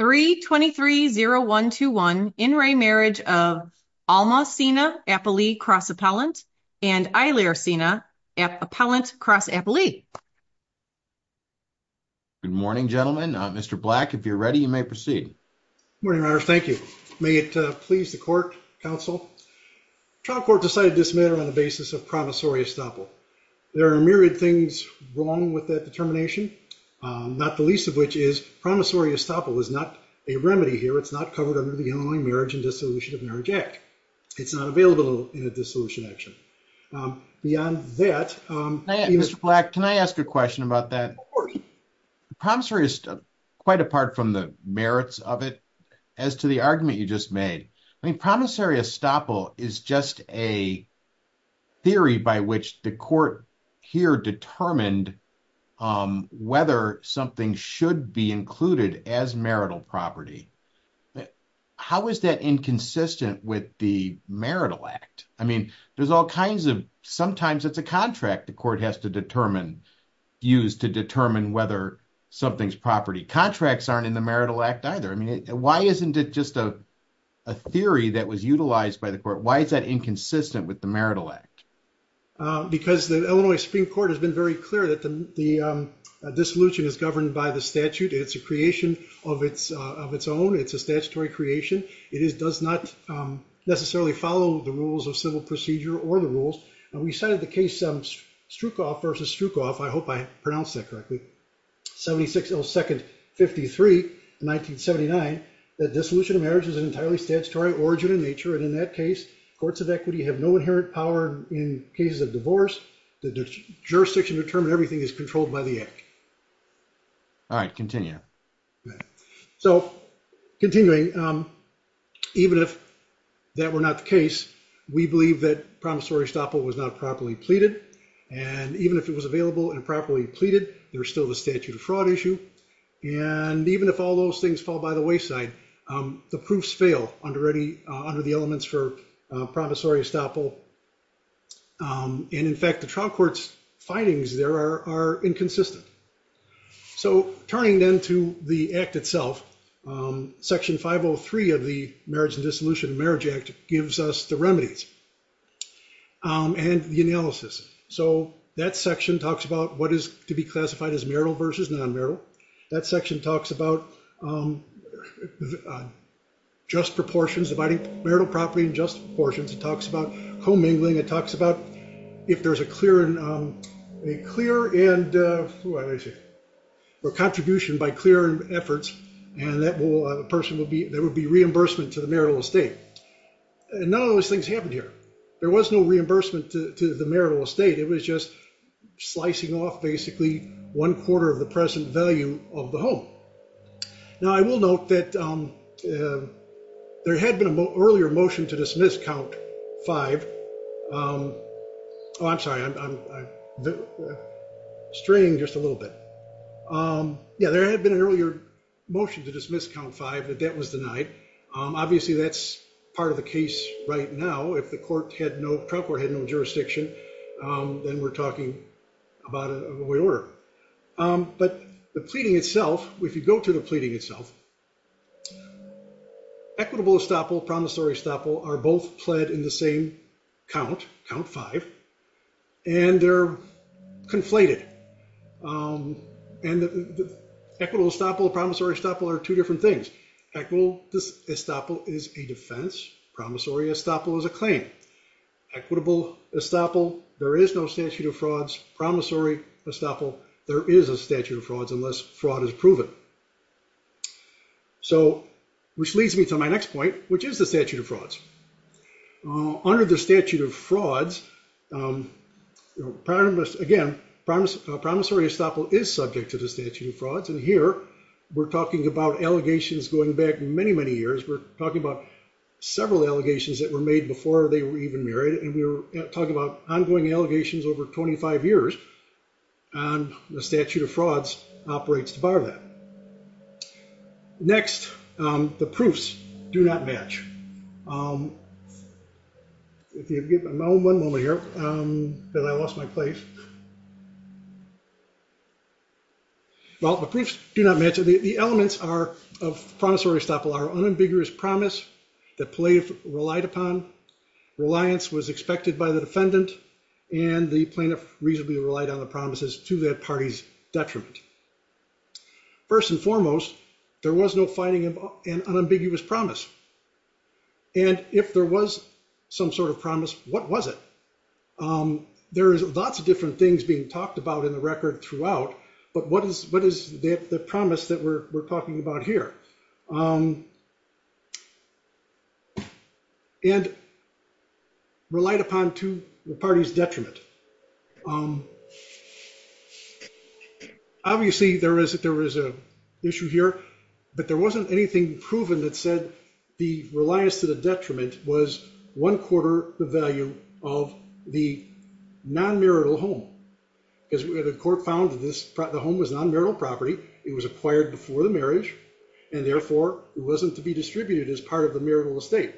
3-23-0-1-2-1 in re marriage of Alma Cina Appalee Cross Appellant and Eilir Cina Appellant Cross Appalee. Good morning gentlemen. Mr. Black, if you're ready you may proceed. Morning, Mayor. Thank you. May it please the court, counsel. Trial court decided this matter on the basis of promissory estoppel. There are myriad things wrong with that determination, not the least of which is promissory estoppel is not a remedy here. It's not covered under the Illinois Marriage and Dissolution of Marriage Act. It's not available in a dissolution action. Beyond that, Mr. Black, can I ask a question about that? Promissory is quite apart from the merits of it as to the argument you just made. I mean, promissory estoppel is just a theory by which the court here determined whether something should be included as marital property. How is that inconsistent with the marital act? I mean, there's all kinds of, sometimes it's a contract the court has to determine, use to determine whether something's property. Contracts aren't in the marital act either. I mean, why isn't it just a theory that was utilized by the court? How is that inconsistent with the marital act? Because the Illinois Supreme Court has been very clear that the dissolution is governed by the statute. It's a creation of its own. It's a statutory creation. It does not necessarily follow the rules of civil procedure or the rules. And we cited the case Strukoff versus Strukoff, I hope I pronounced that correctly, 76, oh, 2nd, 53, 1979, that dissolution of marriage is an entirely statutory origin in nature. And in that case, courts of equity have no inherent power in cases of divorce. The jurisdiction to determine everything is controlled by the act. All right, continue. So continuing, even if that were not the case, we believe that promissory estoppel was not properly pleaded. And even if it was and even if all those things fall by the wayside, the proofs fail under the elements for promissory estoppel. And in fact, the trial court's findings there are inconsistent. So turning then to the act itself, section 503 of the Marriage and Dissolution of Marriage Act gives us the remedies and the analysis. So that section talks about what is to be classified as marital versus non-marital. That section talks about just proportions, dividing marital property in just portions. It talks about commingling. It talks about if there's a clear and, or contribution by clear efforts, and that person will be, there would be reimbursement to the marital estate. And none of those things happened here. There was no reimbursement to the marital estate. It was just slicing off basically one quarter of the present value of the home. Now, I will note that there had been an earlier motion to dismiss count five. Oh, I'm sorry, I'm straying just a little bit. Yeah, there had been an earlier motion to dismiss count five, but that was denied. Obviously, that's part of the case right now. If the court had no, had no jurisdiction, then we're talking about a void order. But the pleading itself, if you go to the pleading itself, equitable estoppel, promissory estoppel are both pled in the same count, count five, and they're conflated. And the equitable estoppel, promissory estoppel are two things. Equal estoppel is a defense. Promissory estoppel is a claim. Equitable estoppel, there is no statute of frauds. Promissory estoppel, there is a statute of frauds unless fraud is proven. So, which leads me to my next point, which is the statute of frauds. Under the statute of frauds, again, promissory estoppel is subject to the statute of frauds. And we're talking about allegations going back many, many years. We're talking about several allegations that were made before they were even married. And we're talking about ongoing allegations over 25 years. And the statute of frauds operates to bar that. Next, the proofs not match. If you'll give me one moment here, because I lost my place. Well, the proofs do not match. The elements of promissory estoppel are unambiguous promise that plaintiff relied upon, reliance was expected by the defendant, and the plaintiff reasonably relied on the promises to that party's detriment. First and if there was some sort of promise, what was it? There is lots of different things being talked about in the record throughout, but what is the promise that we're talking about here? And relied upon to the party's detriment. Obviously, there is a issue here, but there wasn't anything proven that said the reliance to the detriment was one quarter the value of the non-marital home. Because the court found that the home was non-marital property. It was acquired before the marriage, and therefore, it wasn't to be distributed as part of the marital estate.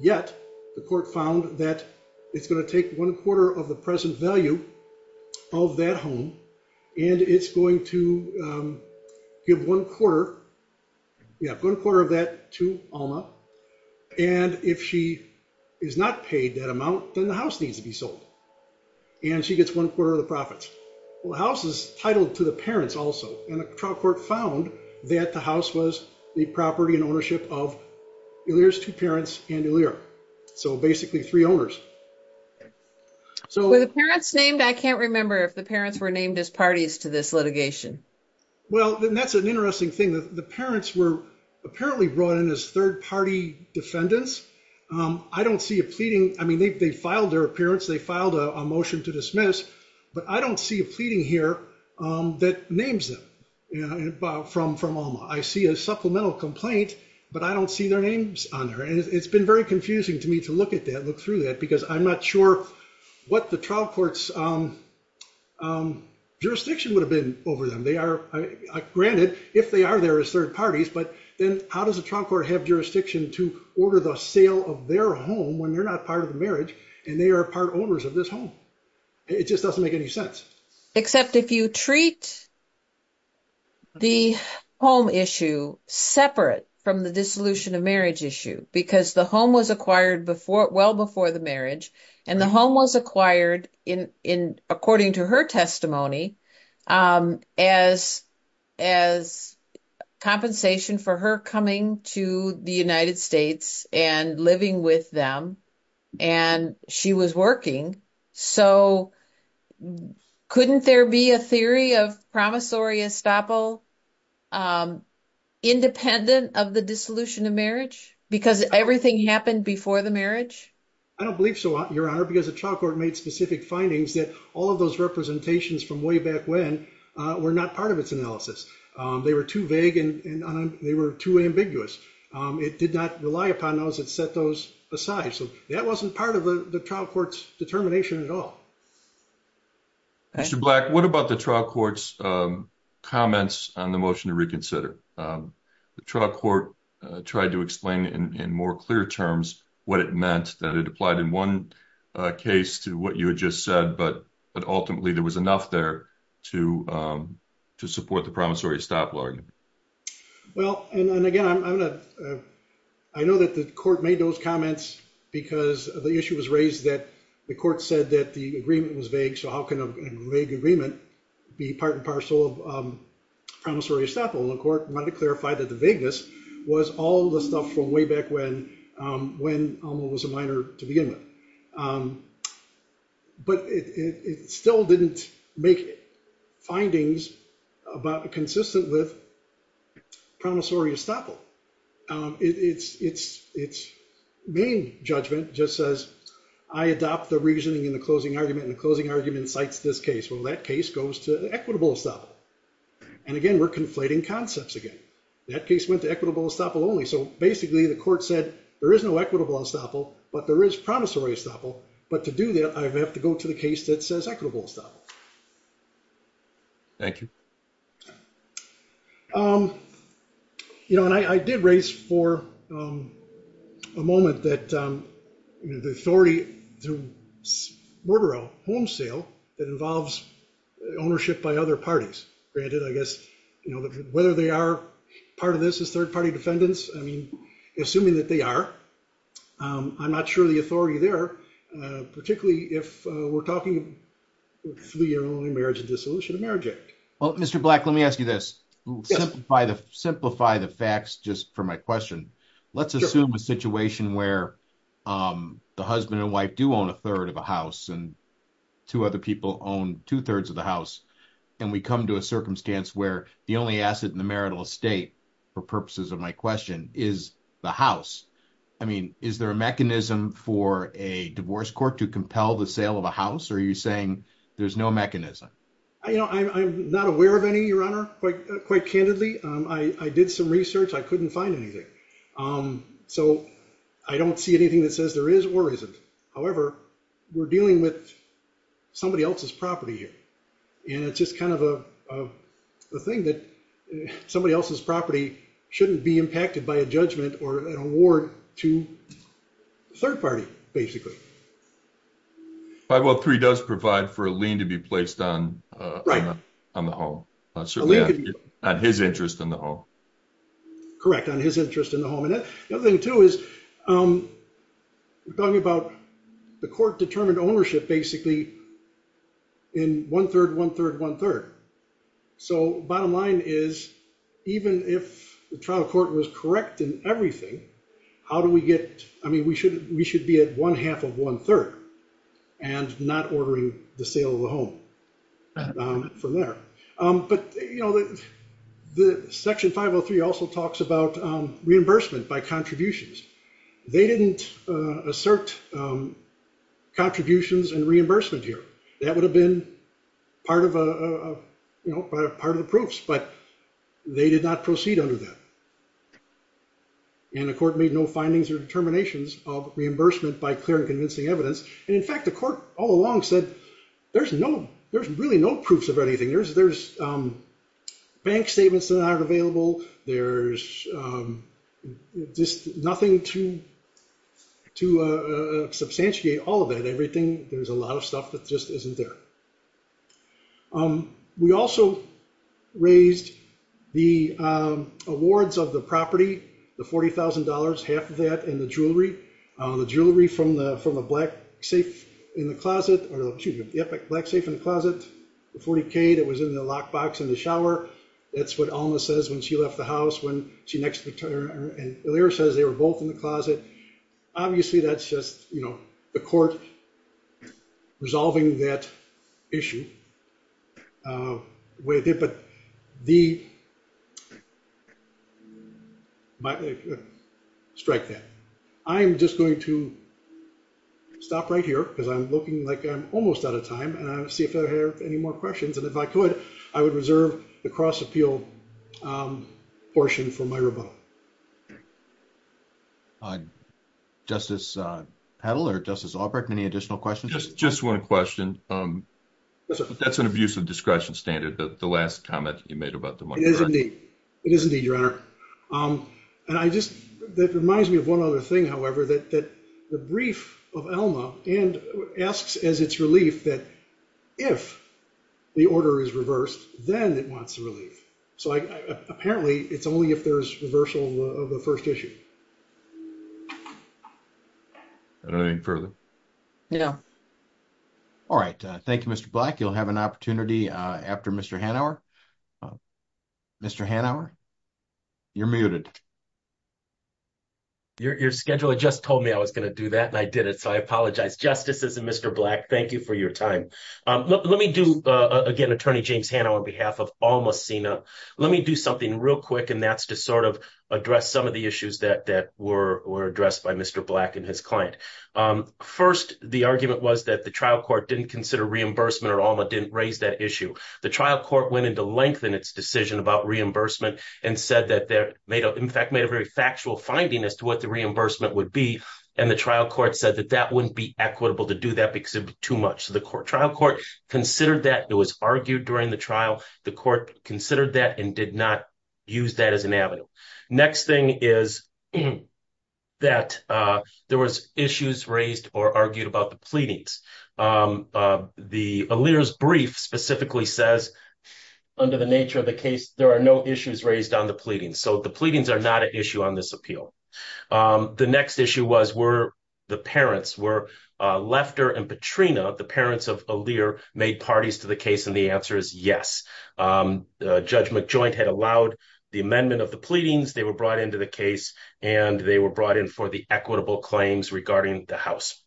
Yet, the court found that it's going to take one quarter of the present value of that home, and it's going to give one quarter, yeah, one quarter of that to Alma, and if she is not paid that amount, then the house needs to be sold, and she gets one quarter of the profits. Well, the house is titled to the parents also, and the trial court found that the house was the property and ownership of Elyra's two parents and Elyra, so basically three owners. Were the parents named? I can't remember if the parents were named as parties to this litigation. Well, that's an interesting thing. The parents were apparently brought in as third party defendants. I don't see a pleading. I mean, they filed their appearance. They filed a motion to dismiss, but I don't see a pleading here that names them from Alma. I see a supplemental complaint, but I don't see their names on there, and it's been very confusing to me to look at that, look through that, because I'm not sure what the trial court's jurisdiction would have been over them. Granted, if they are there as third parties, but then how does the trial court have jurisdiction to order the sale of their home when they're not part of the marriage, and they are part owners of this home? It just doesn't make any sense. Except if you treat the home issue separate from the dissolution of marriage issue, because the home was acquired well before the marriage, and the home was acquired according to her testimony as compensation for her coming to the United States and living with them, and she was working. So couldn't there be a theory of promissory estoppel independent of the dissolution of marriage because everything happened before the marriage? I don't believe so, Your Honor, because the trial court made specific findings that all of those representations from way back when were not part of its analysis. They were too vague, and they were too ambiguous. It did not rely upon those that set those aside, so that wasn't part of the trial court's determination at all. Mr. Black, what about trial court's comments on the motion to reconsider? The trial court tried to explain in more clear terms what it meant, that it applied in one case to what you had just said, but ultimately there was enough there to support the promissory estoppel argument. Well, and again, I know that the court made those comments because the issue was raised that the court said that the agreement was vague, so how can a vague agreement be part and parcel of promissory estoppel, and the court wanted to clarify that the vagueness was all the stuff from way back when Alma was a minor to begin with. But it still didn't make findings about consistent with promissory estoppel. Its main judgment just says, I adopt the reasoning in the closing argument, and the closing argument cites this case. Well, that case goes to equitable estoppel, and again, we're conflating concepts again. That case went to equitable estoppel only, so basically the court said there is no equitable estoppel, but there is promissory estoppel, but to do that, I have to go to the case that says equitable estoppel. Thank you. You know, and I did raise for a moment that the authority to order a home sale that involves ownership by other parties. Granted, I guess, you know, whether they are part of this as third-party defendants, I mean, assuming that they are, I'm not sure the authority there, particularly if we're talking three-year-old marriage and dissolution of marriage act. Well, Mr. Black, let me ask you this. Simplify the facts just for my question. Let's assume a situation where the husband and wife do own a third of a house, and two other people own two-thirds of the house, and we come to a circumstance where the only asset in the marital estate, for purposes of my question, is the house. I mean, is there a mechanism for a divorce court to compel the sale of a house, or are you saying there's no mechanism? You know, I'm not aware of any, Your Honor, quite candidly. I did some research. I couldn't find anything, so I don't see anything that says there is or isn't. However, we're dealing with somebody else's property here, and it's just kind of a thing that somebody else's property shouldn't be impacted by a judgment or an award to the third party, basically. 513 does provide for a lien to be placed on the home, certainly on his interest in the home. Correct, on his interest in the home, and the other thing, too, is we're talking about the court-determined ownership, basically, in one-third, one-third, one-third. So, bottom line is, even if the trial court was correct in everything, how do we get, I mean, we should be at one-half of one-third, and not ordering the sale of the home from there. But, you know, the Section 503 also talks about reimbursement by contributions. They didn't assert contributions and reimbursement here. That would have been part of a, you know, part of the proofs, but they did not proceed under that, and the court made no findings or determinations of reimbursement by clear and convincing evidence, and, in fact, the court all along said there's no, there's really no proofs of anything. There's bank statements that aren't available. There's just nothing to substantiate all of that. Everything, there's a lot of stuff that just isn't there. We also raised the awards of the property, the $40,000, half of that, and the jewelry. The jewelry from the black safe in the closet, or excuse me, the black safe in the closet, the $40,000 that was in the lockbox in the shower, that's what Alma says when she left the house, when she next, and Elyra says they were both in the closet. Obviously, that's just, you know, the court resolving that issue the way it did, but the, strike that. I am just going to stop right here because I'm looking like I'm almost out of time, and I'll see if I have any more questions, and if I could, I would reserve the cross-appeal portion for my rebuttal. Okay. Justice Hedl or Justice Albrecht, any additional questions? Just one question. That's an abuse of discretion standard, the last comment you made about the money. It is indeed, it is indeed, Your Honor, and I just, that reminds me of one other thing, however, that the brief of Alma, and asks as its relief that if the order is reversed, then it wants the relief. So I, apparently, it's only if there's reversal of the first issue. I don't know any further. Yeah. All right. Thank you, Mr. Black. You'll have an opportunity after Mr. Hanauer. Mr. Hanauer, you're muted. Your scheduler just told me I was going to do that, and I did it, so I apologize. Justices and Mr. Black, thank you for your time. Let me do, again, Attorney James Hanauer on behalf of Alma Sena. Let me do something real quick, and that's to sort of address some of the issues that were addressed by Mr. Black and his client. First, the argument was that the trial court didn't consider reimbursement, or Alma didn't raise that issue. The trial court went into length in its decision about reimbursement, and said that they made, in fact, made a very factual finding as to what the reimbursement would be, and the trial court said that that wouldn't be equitable to do that, because it'd be too much. So the trial court considered that. It was argued during the trial. The court considered that and did not use that as an avenue. Next thing is that there was issues raised or argued about the pleadings. The Allere's brief specifically says, under the nature of the case, there are no issues raised on the pleadings. So the pleadings are not an issue on this appeal. The next issue was, were the parents, were Lefter and Petrina, the parents of Allere, made parties to the case? And the answer is yes. Judge McJoint had allowed the amendment of the pleadings. They were brought into the case, and they were brought in for the equitable claims regarding the house.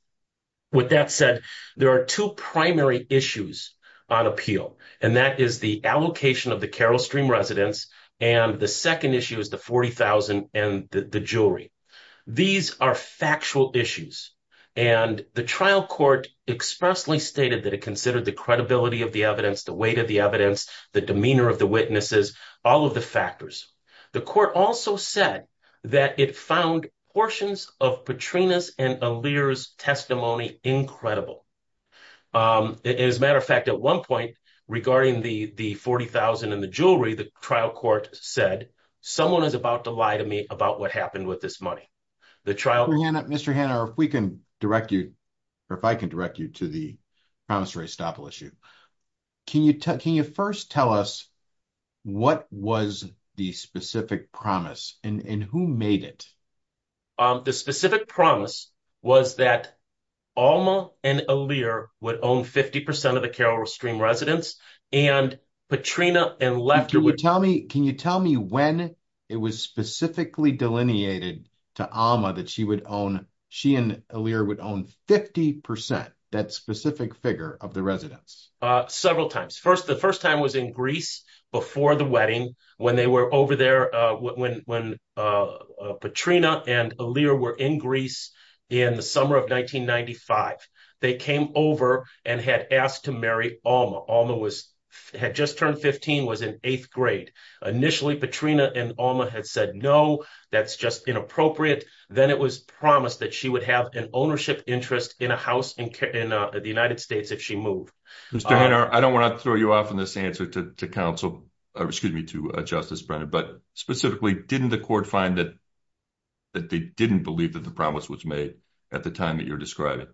With that said, there are two primary issues on appeal, and that is the allocation of the Carroll Stream residents, and the second issue is the $40,000 and the jewelry. These are factual issues, and the trial court expressly stated that it considered the credibility of the evidence, the weight of the evidence, the demeanor of the witnesses, all of the factors. The court also said that it found portions of Petrina's and Allere's testimony incredible. As a matter of fact, at one point regarding the $40,000 and the jewelry, the trial court said, someone is about to lie to me about what happened with this money. Mr. Hanna, if we can direct you, or if I can direct you to the promise-raised-staple issue, can you first tell us what was the specific promise, and who made it? The specific promise was that Alma and Allere would own 50% of the Carroll Stream residents, and Petrina and Lefter would- Can you tell me when it was specifically delineated to Alma that she and Allere would own 50%, that specific figure of the residents? Several times. The first time was in Greece before the wedding, when Petrina and Allere were in in the summer of 1995. They came over and had asked to marry Alma. Alma had just turned 15, was in eighth grade. Initially, Petrina and Alma had said, no, that's just inappropriate. Then it was promised that she would have an ownership interest in a house in the United States if she moved. Mr. Hanna, I don't want to throw you off in this answer to Justice Brennan, but specifically, didn't the court find that they didn't believe that the promise was made at the time that you're describing?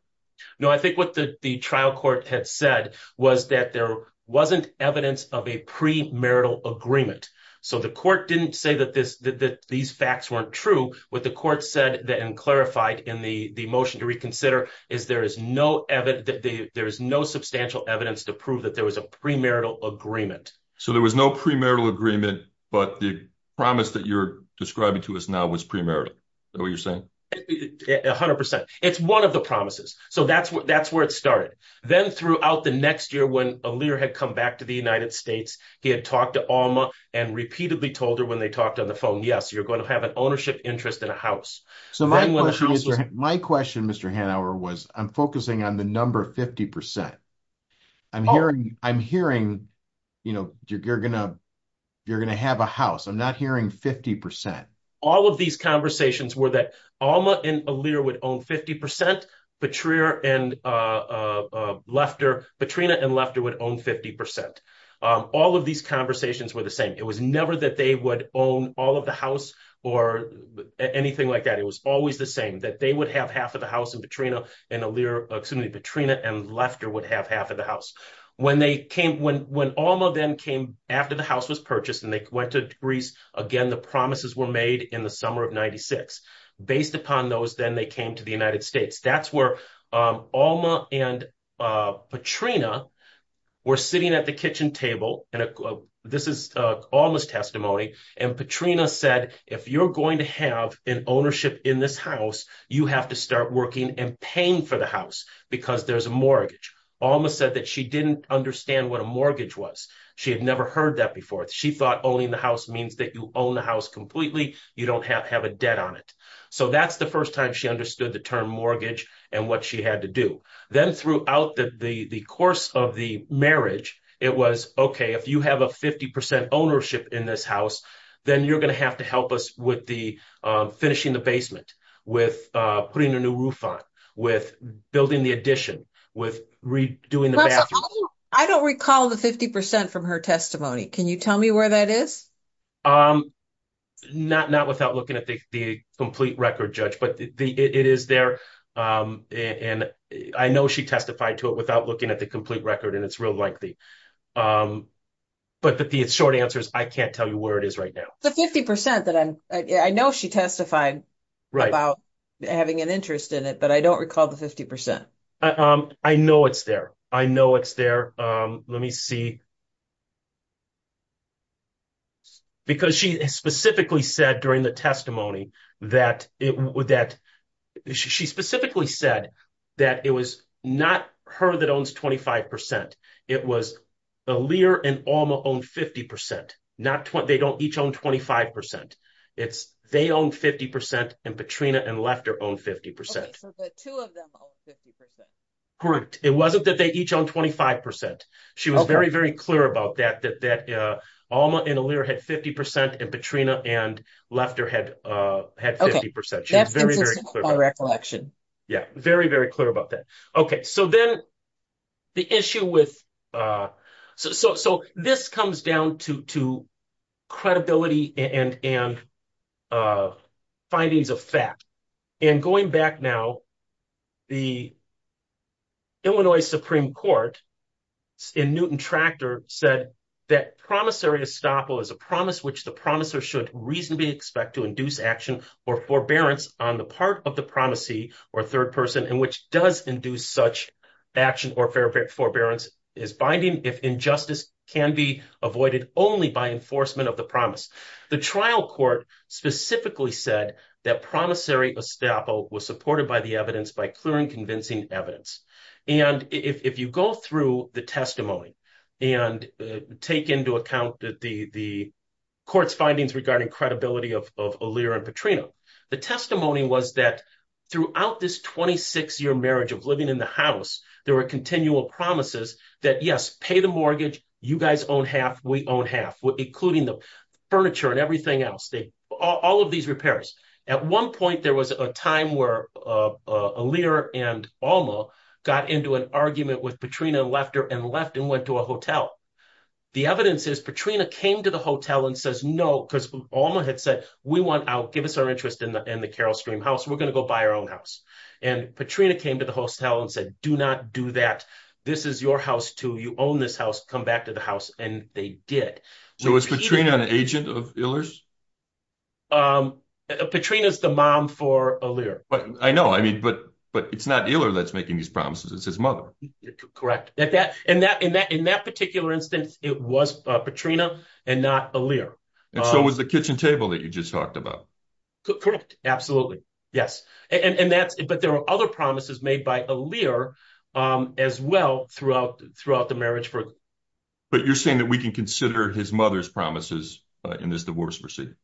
No, I think what the trial court had said was that there wasn't evidence of a pre-marital agreement. The court didn't say that these facts weren't true. What the court said and clarified in the motion to reconsider is there is no substantial evidence to prove that there was a pre-marital agreement. There was no pre-marital agreement, but the promise that you're describing to us now was pre-marital. Is that what you're saying? 100%. It's one of the promises. That's where it started. Then throughout the next year, when Allere had come back to the United States, he had talked to Alma and repeatedly told her when they talked on the phone, yes, you're going to have an ownership interest in a house. So my question, Mr. Hanauer, was I'm focusing on the number 50%. I'm hearing you're going to have a house. I'm not hearing 50%. All of these conversations were that Alma and Allere would own 50%, Petrina and Lefter would own 50%. All of these conversations were the same. It was never that they would own all the house or anything like that. It was always the same, that they would have half of the house in Petrina and Allere, excuse me, Petrina and Lefter would have half of the house. When Alma then came after the house was purchased and they went to Greece, again, the promises were made in the summer of 96. Based upon those, then they came to the United States. That's where Alma and Petrina were sitting at the kitchen table. This is Alma's testimony, and Petrina said, if you're going to have an ownership in this house, you have to start working and paying for the house because there's a mortgage. Alma said that she didn't understand what a mortgage was. She had never heard that before. She thought owning the house means that you own the house completely. You don't have to have a debt on it. So that's the first time she understood the term mortgage and what she had to do. Then throughout the course of the marriage, it was, okay, if you have a 50 percent ownership in this house, then you're going to have to help us with finishing the basement, with putting a new roof on, with building the addition, with redoing the bathroom. I don't recall the 50 percent from her testimony. Can you tell me where that is? Not without looking at the complete record, Judge, but it is there. I know she testified to it without looking at the complete record, and it's real likely. But the short answer is I can't tell you where it is right now. The 50 percent that I know she testified about having an interest in it, but I don't recall the 50 percent. I know it's there. I know it's there. Let me see. Because she specifically said during the testimony that it would that she specifically said that it was not her that owns 25 percent. It was Aaliyah and Alma own 50 percent. They don't each own 25 percent. It's they own 50 percent, and Petrina and Lefter own 50 percent. Okay, so the two of them own 50 percent. Correct. It wasn't that they each own 25 percent. She was very, very clear about that, that Alma and Aaliyah had 50 percent, and Petrina and Lefter had 50 percent. Okay, that's consistent with my recollection. Yeah, very, very clear about that. Okay, so then the issue with so this comes down to credibility and findings of fact. And going back now, the Illinois Supreme Court in Newton Tractor said that promissory estoppel is a promise which the promisor should reasonably expect to induce action or forbearance on the part of the promisee or third person, and which does induce such action or forbearance is binding if injustice can be avoided only by enforcement of the promise. The trial court specifically said that promissory estoppel was supported by the evidence by clear and convincing evidence. And if you go through the testimony and take into account the court's findings regarding credibility of Aaliyah and Petrina, the testimony was that throughout this 26-year marriage of living in the house, there were continual promises that, yes, pay the mortgage, you guys own half, we own half, including the furniture and everything else, all of these repairs. At one point, there was a time where Aaliyah and Alma got into an argument with Petrina and left and went to a hotel. The evidence is Petrina came to the hotel and says, no, because Alma had said, we want out, give us our interest in the Carroll Stream house, we're going to go buy our own house. And Petrina came to the hotel and said, do not do that. This is your house too. You own this house, come back to the house. And they did. So was Petrina an agent of Iller's? Petrina is the mom for Aaliyah. But I know, I mean, but it's not Iller that's making these promises, it's his mother. Correct. And in that particular instance, it was Petrina and not Aaliyah. And so was the kitchen table that you just talked about. Correct. Absolutely. Yes. But there were other promises made by Aaliyah as well throughout the marriage. But you're saying that we can consider his mother's promises in this divorce proceeding?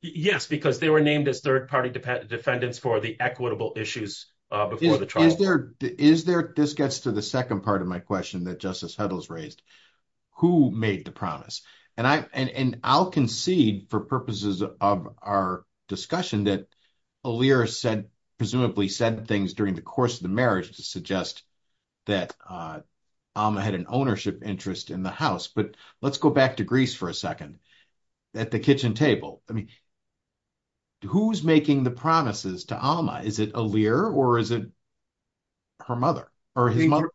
Yes, because they were named as third-party defendants for the equitable issues before the trial. Is there, this gets to the second part of my question that Justice Heddles raised, who made the promise? And I'll concede for purposes of our discussion that Iller said, presumably said things during the course of the marriage to suggest that Aaliyah had an ownership interest in the house. But let's go back to Greece for a second. At the kitchen table, I mean, who's making the promises to Aaliyah? Is it Iller or is it her mother or his mother?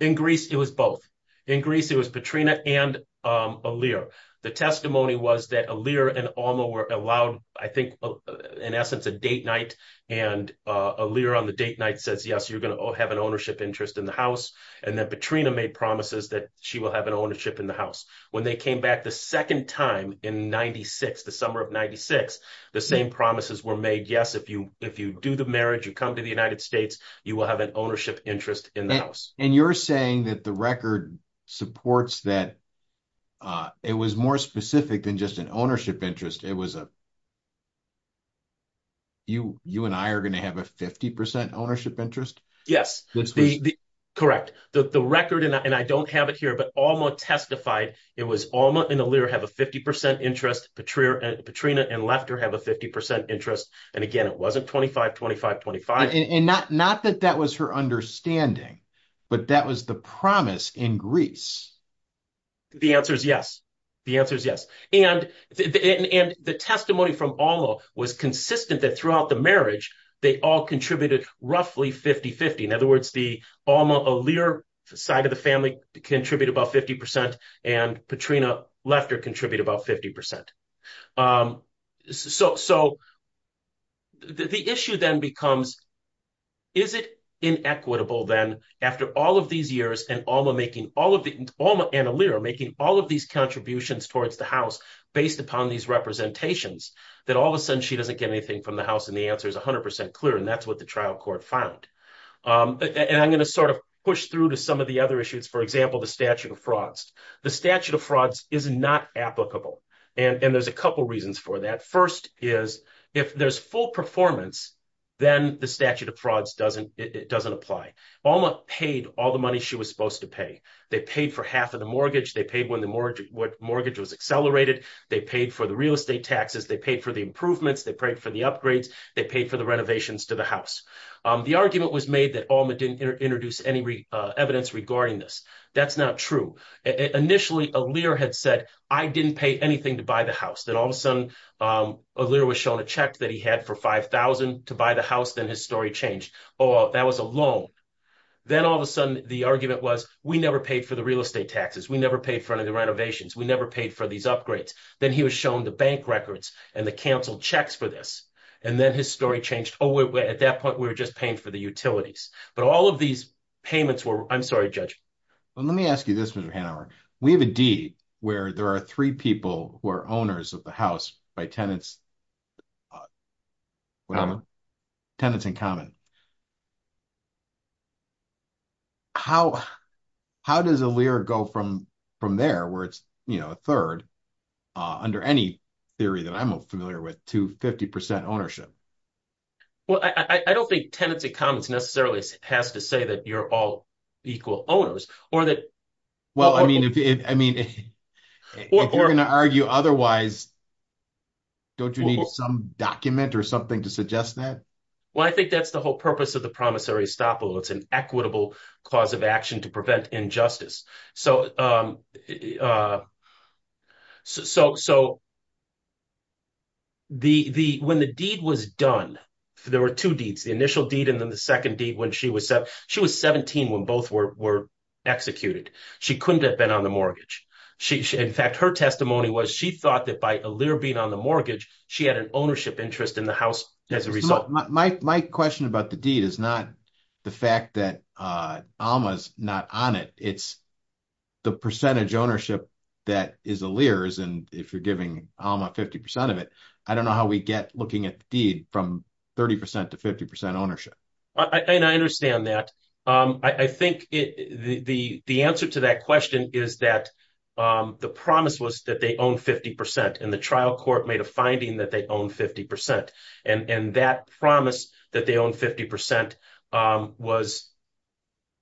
In Greece, it was both. In Greece, it was Petrina and Iller. The testimony was that Iller and Aaliyah were allowed, I think, in essence, a date night. And Iller on the date in the house. And then Petrina made promises that she will have an ownership in the house. When they came back the second time in 96, the summer of 96, the same promises were made. Yes, if you do the marriage, you come to the United States, you will have an ownership interest in the house. And you're saying that the record supports that it was more specific than just an ownership interest. It was a, you and I are going to have a 50 percent ownership interest? Yes. Correct. The record, and I don't have it here, but Alma testified it was Alma and Iller have a 50 percent interest. Petrina and Lefter have a 50 percent interest. And again, it wasn't 25, 25, 25. And not that that was her understanding, but that was the promise in Greece. The answer is yes. The answer is yes. And the testimony from Alma was consistent that throughout the marriage, they all contributed roughly 50-50. In other words, the Alma-Iller side of the family contribute about 50 percent and Petrina-Lefter contribute about 50 percent. So the issue then becomes, is it inequitable then after all of these years and Alma making all of the, Alma and Iller making all of these contributions towards the house based upon these representations, that all of a sudden she doesn't get anything from the house and the answer is 100 percent clear. And that's what the trial court found. And I'm going to sort of push through to some of the other issues, for example, the statute of frauds. The statute of frauds is not applicable. And there's a couple reasons for that. First is if there's full performance, then the statute of frauds doesn't, it doesn't apply. Alma paid all the money she was supposed to pay. They paid for half of the mortgage. They paid when the mortgage, what mortgage was accelerated. They paid for the real estate taxes. They paid for the improvements. They paid for the upgrades. They paid for the renovations to the house. The argument was made that Alma didn't introduce any evidence regarding this. That's not true. Initially, Iller had said, I didn't pay anything to buy the house. Then all of a sudden, Iller was shown a check that he had for $5,000 to buy the house. Then his story changed. Oh, that was a loan. Then all of a sudden, the argument was, we never paid for the real estate taxes. We never paid for any of the renovations. We never paid for these upgrades. Then he was shown the bank records and the council checks for this. And then his story changed. Oh, at that point, we were just paying for the utilities. But all of these payments were, I'm sorry, Judge. Well, let me ask you this, Mr. Hanauer. We have a deed where there are three people who are owners of the house by tenants, tenants in common. How does Iller go from there where it's, you know, third, under any theory that I'm familiar with, to 50% ownership? Well, I don't think tenants and commons necessarily has to say that you're all equal owners or that- Well, I mean, if you're going to argue otherwise, don't you need some document or something to suggest that? Well, I think that's the whole purpose of the promissory estoppel. It's an equitable cause of action to prevent injustice. So when the deed was done, there were two deeds, the initial deed and then the second deed when she was 17 when both were executed. She couldn't have been on the mortgage. In fact, her testimony was she thought that by Iller being on the mortgage, she had an ownership interest in the house as a result. My question about the deed is not the fact that Alma's not on it. It's the percentage ownership that is Iller's. And if you're giving Alma 50% of it, I don't know how we get looking at the deed from 30% to 50% ownership. I understand that. I think the answer to that question is that the promise was that they own 50% and the trial court made a finding that they own 50%. And that promise that they own 50% was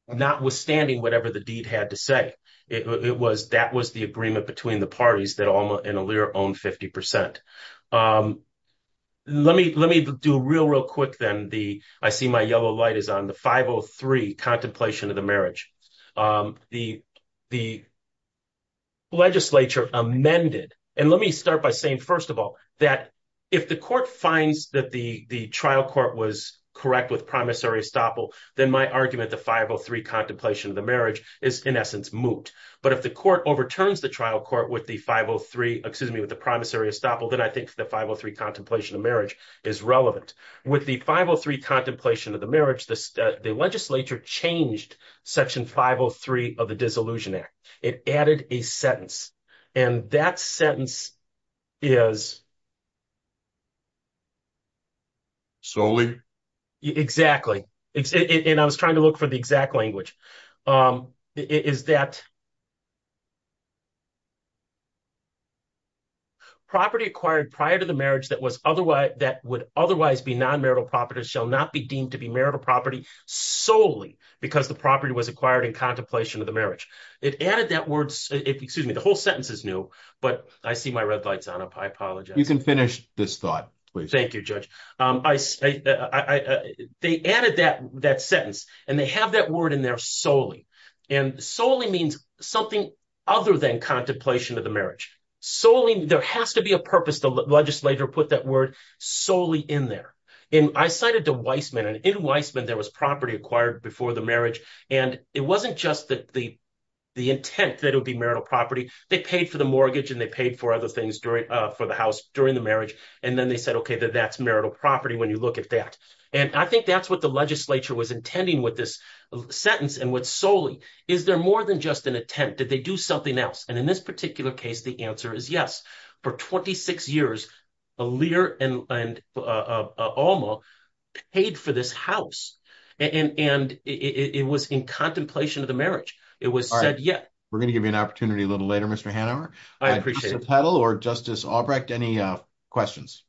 notwithstanding whatever the deed had to say. That was the agreement between the parties that Alma and Iller own 50%. Let me do real, real quick then. I see my yellow light is on the 503 contemplation of the marriage. The legislature amended. And let me start by saying, first of all, that if the court finds that the trial court was correct with promissory estoppel, then my argument, the 503 contemplation of the marriage is in essence moot. But if the court overturns the trial court with the 503, excuse me, with the promissory estoppel, then I think the 503 contemplation of marriage is relevant. With the 503 contemplation of the marriage, the legislature changed section 503 of the Dissolution Act. It added a sentence. And that sentence is... Solely? Exactly. And I was trying to look for the exact language. It is that property acquired prior to the marriage that would otherwise be non-marital property shall not be deemed to be marital property solely because the property was acquired in contemplation of the marriage. It added that word... Excuse me, the whole sentence is new, but I see my red light's on. I apologize. You can finish this thought, please. Thank you, Judge. They added that sentence and they have that word in there solely. And something other than contemplation of the marriage. There has to be a purpose. The legislature put that word solely in there. And I cited the Weisman. And in Weisman, there was property acquired before the marriage. And it wasn't just that the intent that it would be marital property. They paid for the mortgage and they paid for other things for the house during the marriage. And then they said, okay, that's marital property when you look at that. And I think that's what the legislature was intending with this sentence. And with solely, is there more than just an attempt? Did they do something else? And in this particular case, the answer is yes. For 26 years, Aaliyah and Alma paid for this house. And it was in contemplation of the marriage. It was said, yeah. All right. We're going to give you an opportunity a little later, Mr. Hanauer. I appreciate it. Justice Petal or Justice Albrecht, any questions?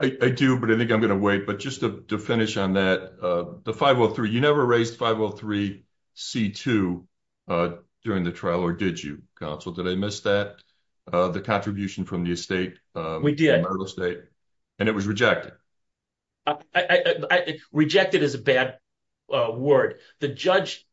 I do, but I think I'm going to wait. But just to finish on that, the 503, you never raised 503C2 during the trial or did you, counsel? Did I miss that? The contribution from the estate? We did. And it was rejected. Rejected is a bad word. The judge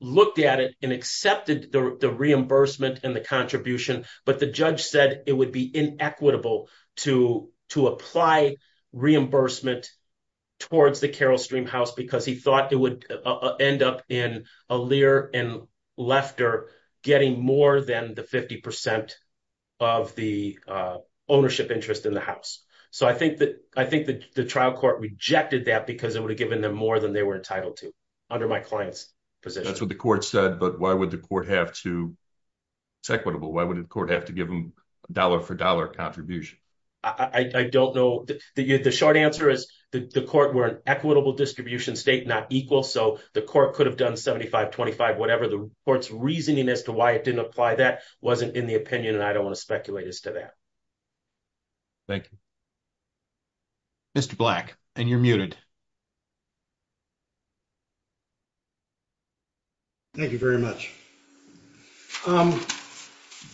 looked at it and accepted the reimbursement and the contribution, but the judge said it would be inequitable to apply reimbursement towards the Carroll Stream house because he thought it would end up in Aaliyah and Lefter getting more than the 50% of the ownership interest in the house. So I think that the trial court rejected that because it would have given them more than they were entitled to under my client's position. That's what the court said, but why would the dollar for dollar contribution? I don't know. The short answer is the court were an equitable distribution state, not equal. So the court could have done 75, 25, whatever the court's reasoning as to why it didn't apply that wasn't in the opinion. And I don't want to speculate as to that. Thank you. Mr. Black and you're muted. Thank you very much.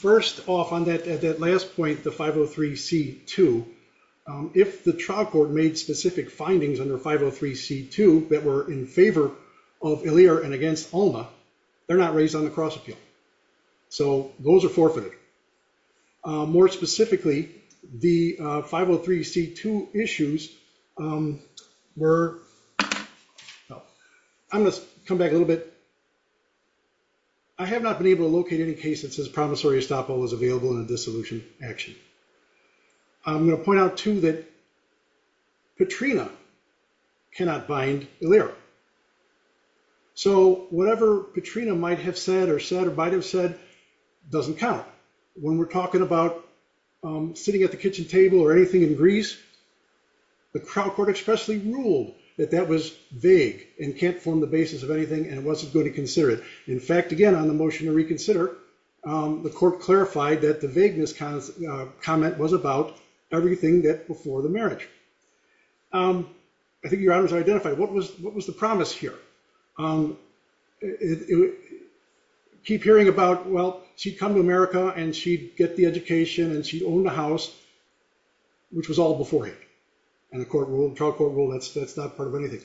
First off on that, at that last point, the 503 C2, if the trial court made specific findings under 503 C2 that were in favor of Aaliyah and against Alma, they're not raised on the cross appeal. So those are forfeited. More specifically, the 503 C2 issues were, I'm going to come back a little bit. I have not been able to locate any cases as promissory estoppel was available in a dissolution action. I'm going to point out too that Katrina cannot bind Aaliyah. So whatever Katrina might have said or said, or might've said doesn't count when we're talking about sitting at the kitchen table or anything in Greece, the trial court expressly ruled that that was vague and can't form the basis of anything. And it wasn't going to consider it. In fact, again, on the motion to reconsider, the court clarified that the vagueness comment was about everything that before the marriage. I think your honors are identified. What was the promise here? Keep hearing about, well, she'd come to America and she'd get the education and she owned a house, which was all beforehand. And the trial court rule, that's not part of anything.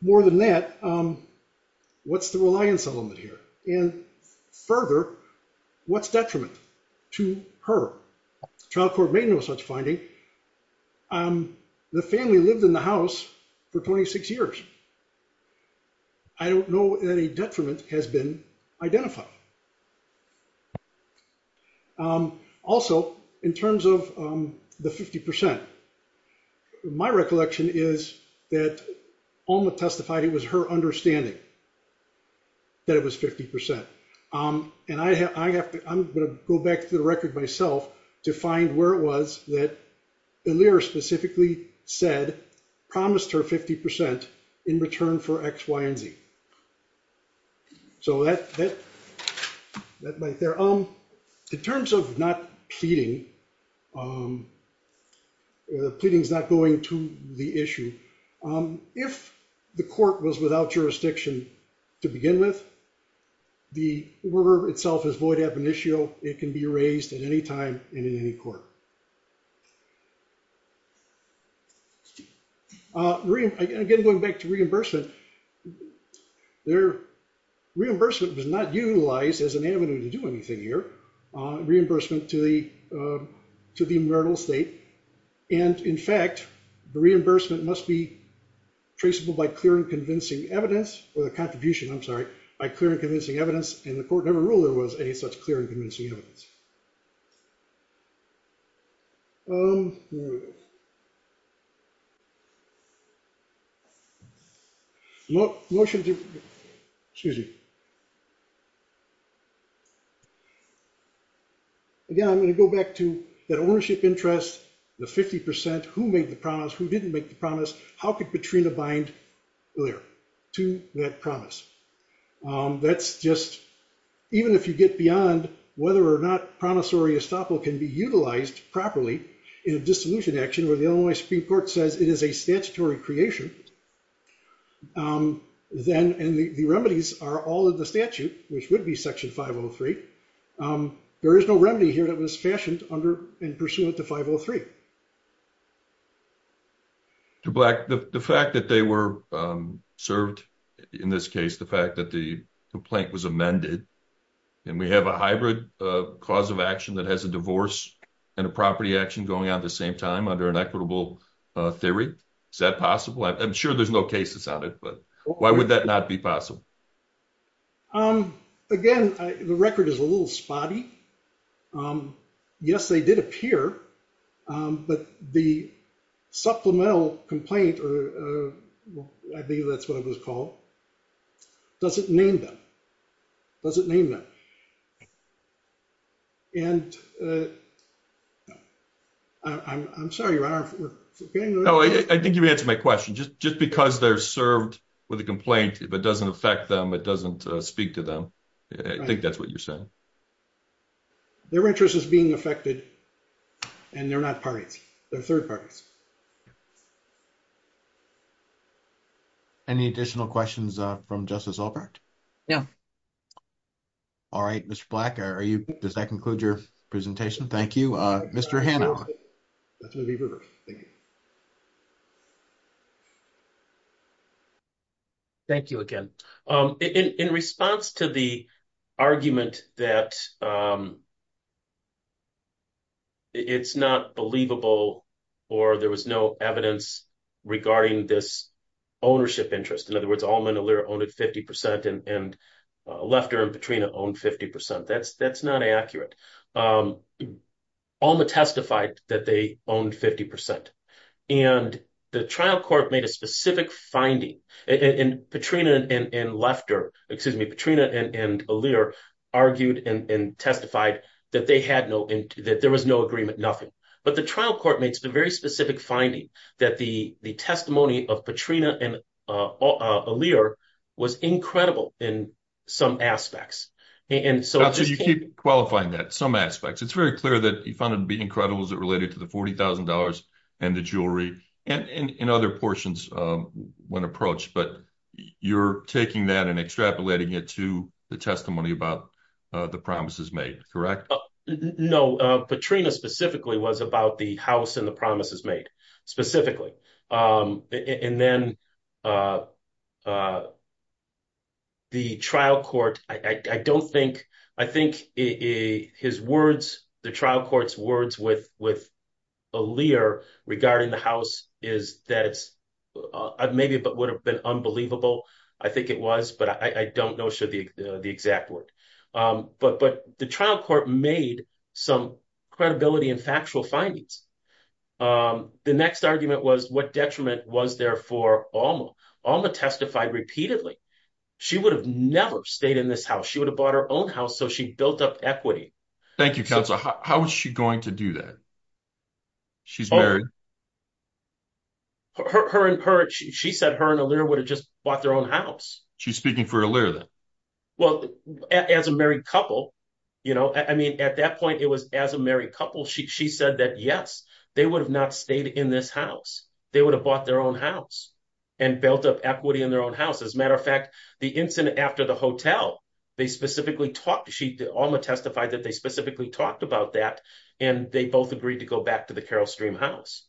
More than that, what's the reliance element here? And further, what's detriment to her? Trial court made no such finding. The family lived in the house for 26 years. I don't know any detriment has been identified. Also in terms of the 50%, my recollection is that Alma testified it was her understanding that it was 50%. And I have to, I'm going to go back to the record myself to find where it was that the lawyer specifically said, promised her 50% in return for X, Y, and Z. So that might there. In terms of not pleading, the pleading is not going to the issue. If the court was without jurisdiction to begin with, the word itself is void ab initio. It can be erased at any time in any court. Again, going back to reimbursement, their reimbursement was not utilized as an avenue to do anything here. Reimbursement to the marital estate. And in fact, the reimbursement must be traceable by clear and convincing evidence or the contribution, I'm sorry, by clear and convincing evidence. And the court never ruled there was any such clear and convincing evidence. Again, I'm going to go back to that ownership interest, the 50%, who made the promise, who didn't make the promise, how could Petrina bind there to that promise? That's just, even if you get beyond whether or not promissory estoppel can be utilized properly in a dissolution action where the Illinois Supreme Court says it is a statutory creation, then the remedies are all of the statute, which would be section 503. There is no remedy here that was fashioned under and pursuant to 503. To Black, the fact that they were served, in this case, the fact that the complaint was amended, and we have a hybrid cause of action that has a divorce and a property action going on at the same time under an equitable theory, is that possible? I'm sure there's no cases on it, but why would that not be possible? Again, the record is a little spotty. Yes, they did appear, but the supplemental complaint, or I believe that's what it was called, doesn't name them, doesn't name them. And I'm sorry, Ron, if we're forgetting- No, I think you've answered my question. Just because they're served with a complaint, if it doesn't affect them, it doesn't speak to them. I think that's what you're saying. Their interest is being affected, and they're not parties. They're third parties. Any additional questions from Justice Albrecht? No. All right, Mr. Black, does that conclude your presentation? Thank you. Mr. Hanna. Thank you again. In response to the argument that it's not believable, or there was no evidence regarding this ownership interest, in other words, Alma and Allura owned it 50%, and Lefter and Petrina owned 50%. That's not accurate. Alma testified that they owned 50%. And the trial court made a specific finding. Petrina and Lefter, excuse me, Petrina and Allura argued and testified that there was no agreement, nothing. But the trial court makes the very specific finding that the testimony of Petrina and Allura was incredible in some aspects. And so- Qualifying that, some aspects. It's very clear that you found it to be incredible as it related to the $40,000 and the jewelry, and other portions when approached. But you're taking that and extrapolating it to the testimony about the promises made, correct? No, Petrina specifically was about the house and the promises made, specifically. And then the trial court, I don't think, I think his words, the trial court's words with Aaliyah regarding the house is that maybe it would have been unbelievable. I think it was, but I don't know the exact word. But the trial court made some credibility and factual findings. The next argument was what detriment was there for Alma? Alma testified repeatedly. She would have never stayed in this house. She would have bought her own house. So she built up equity. Thank you, counsel. How is she going to do that? She's married. She said her and Allura would have just bought their own house. She's speaking for Allura then. Well, as a married couple, I mean, at that point, it was as a married couple. She said that, yes, they would have not stayed in this house. They would have bought their own house and built up equity in their own house. As a matter of fact, the incident after the hotel, they specifically talked, Alma testified that they specifically talked about that, and they both agreed to go back to the Carroll Stream house.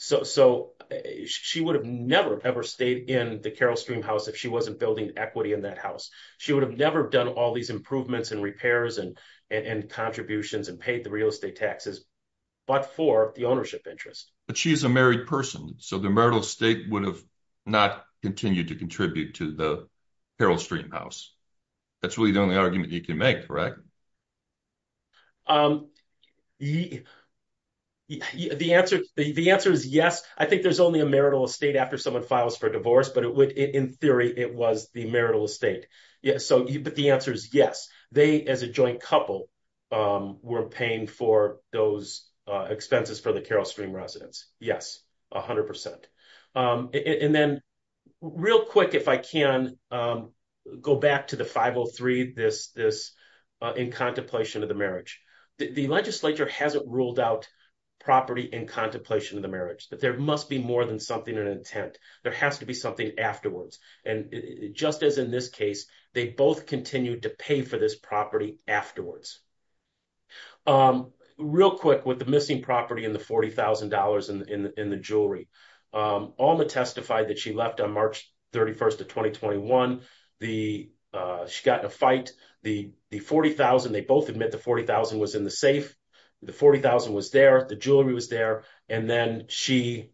So she would have never, ever stayed in the Carroll Stream house if she wasn't building equity in that house. She would have done all these improvements and repairs and contributions and paid the real estate taxes, but for the ownership interest. But she is a married person. So the marital estate would have not continued to contribute to the Carroll Stream house. That's really the only argument you can make, correct? The answer is yes. I think there's only a marital estate after someone files for divorce, but in theory, it was the marital estate. But the answer is yes. They, as a joint couple, were paying for those expenses for the Carroll Stream residence. Yes, 100%. And then real quick, if I can go back to the 503, this in contemplation of the marriage. The legislature hasn't ruled out property in contemplation of the marriage, but there must be more than something in intent. There has to be something afterwards. And just as in this case, they both continued to pay for this property afterwards. Real quick with the missing property and the $40,000 in the jewelry. Alma testified that she left on March 31st of 2021. She got in a fight. The 40,000, they both admit the 40,000 was in the safe. The 40,000 was there. The jewelry was there. And then she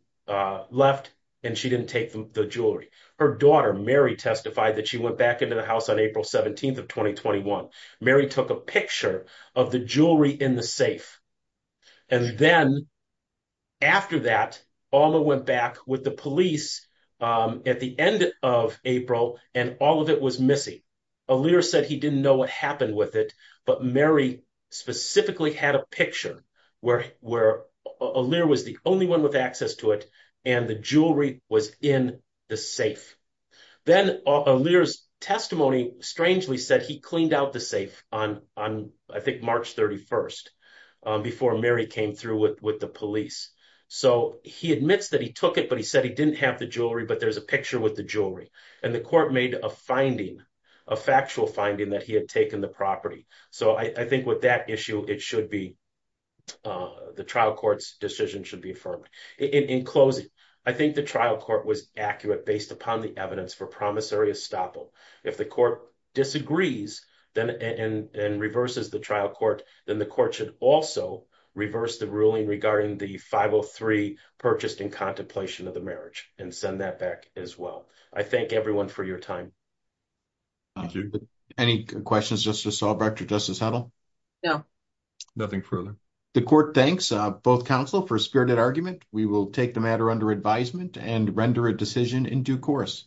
left and she didn't take the jewelry. Her daughter, Mary, testified that she went back into the house on April 17th of 2021. Mary took a picture of the jewelry in the safe. And then after that, Alma went back with the police at the end of April and all of it was missing. Alir said he didn't know what happened with it, but Mary specifically had a picture where Alir was the only one with access to it and the jewelry was in the safe. Then Alir's testimony strangely said he cleaned out the safe on I think March 31st before Mary came through with the police. So he admits that he took it, but he said he didn't have the jewelry, but there's a picture with the jewelry. And the court made a finding, a factual finding that he had taken the property. So I think with that issue, it should be the trial court's decision should be affirmed. In closing, I think the trial court was accurate based upon the evidence for promissory estoppel. If the court disagrees and reverses the trial court, then the court should also reverse the ruling regarding the 503 purchased in contemplation of the marriage and send that back as well. I thank everyone for your time. Thank you. Any questions, Justice Salbert or Justice Heddle? No, nothing further. The court thanks both counsel for a spirited argument. We will take the matter under advisement and render a decision in due course.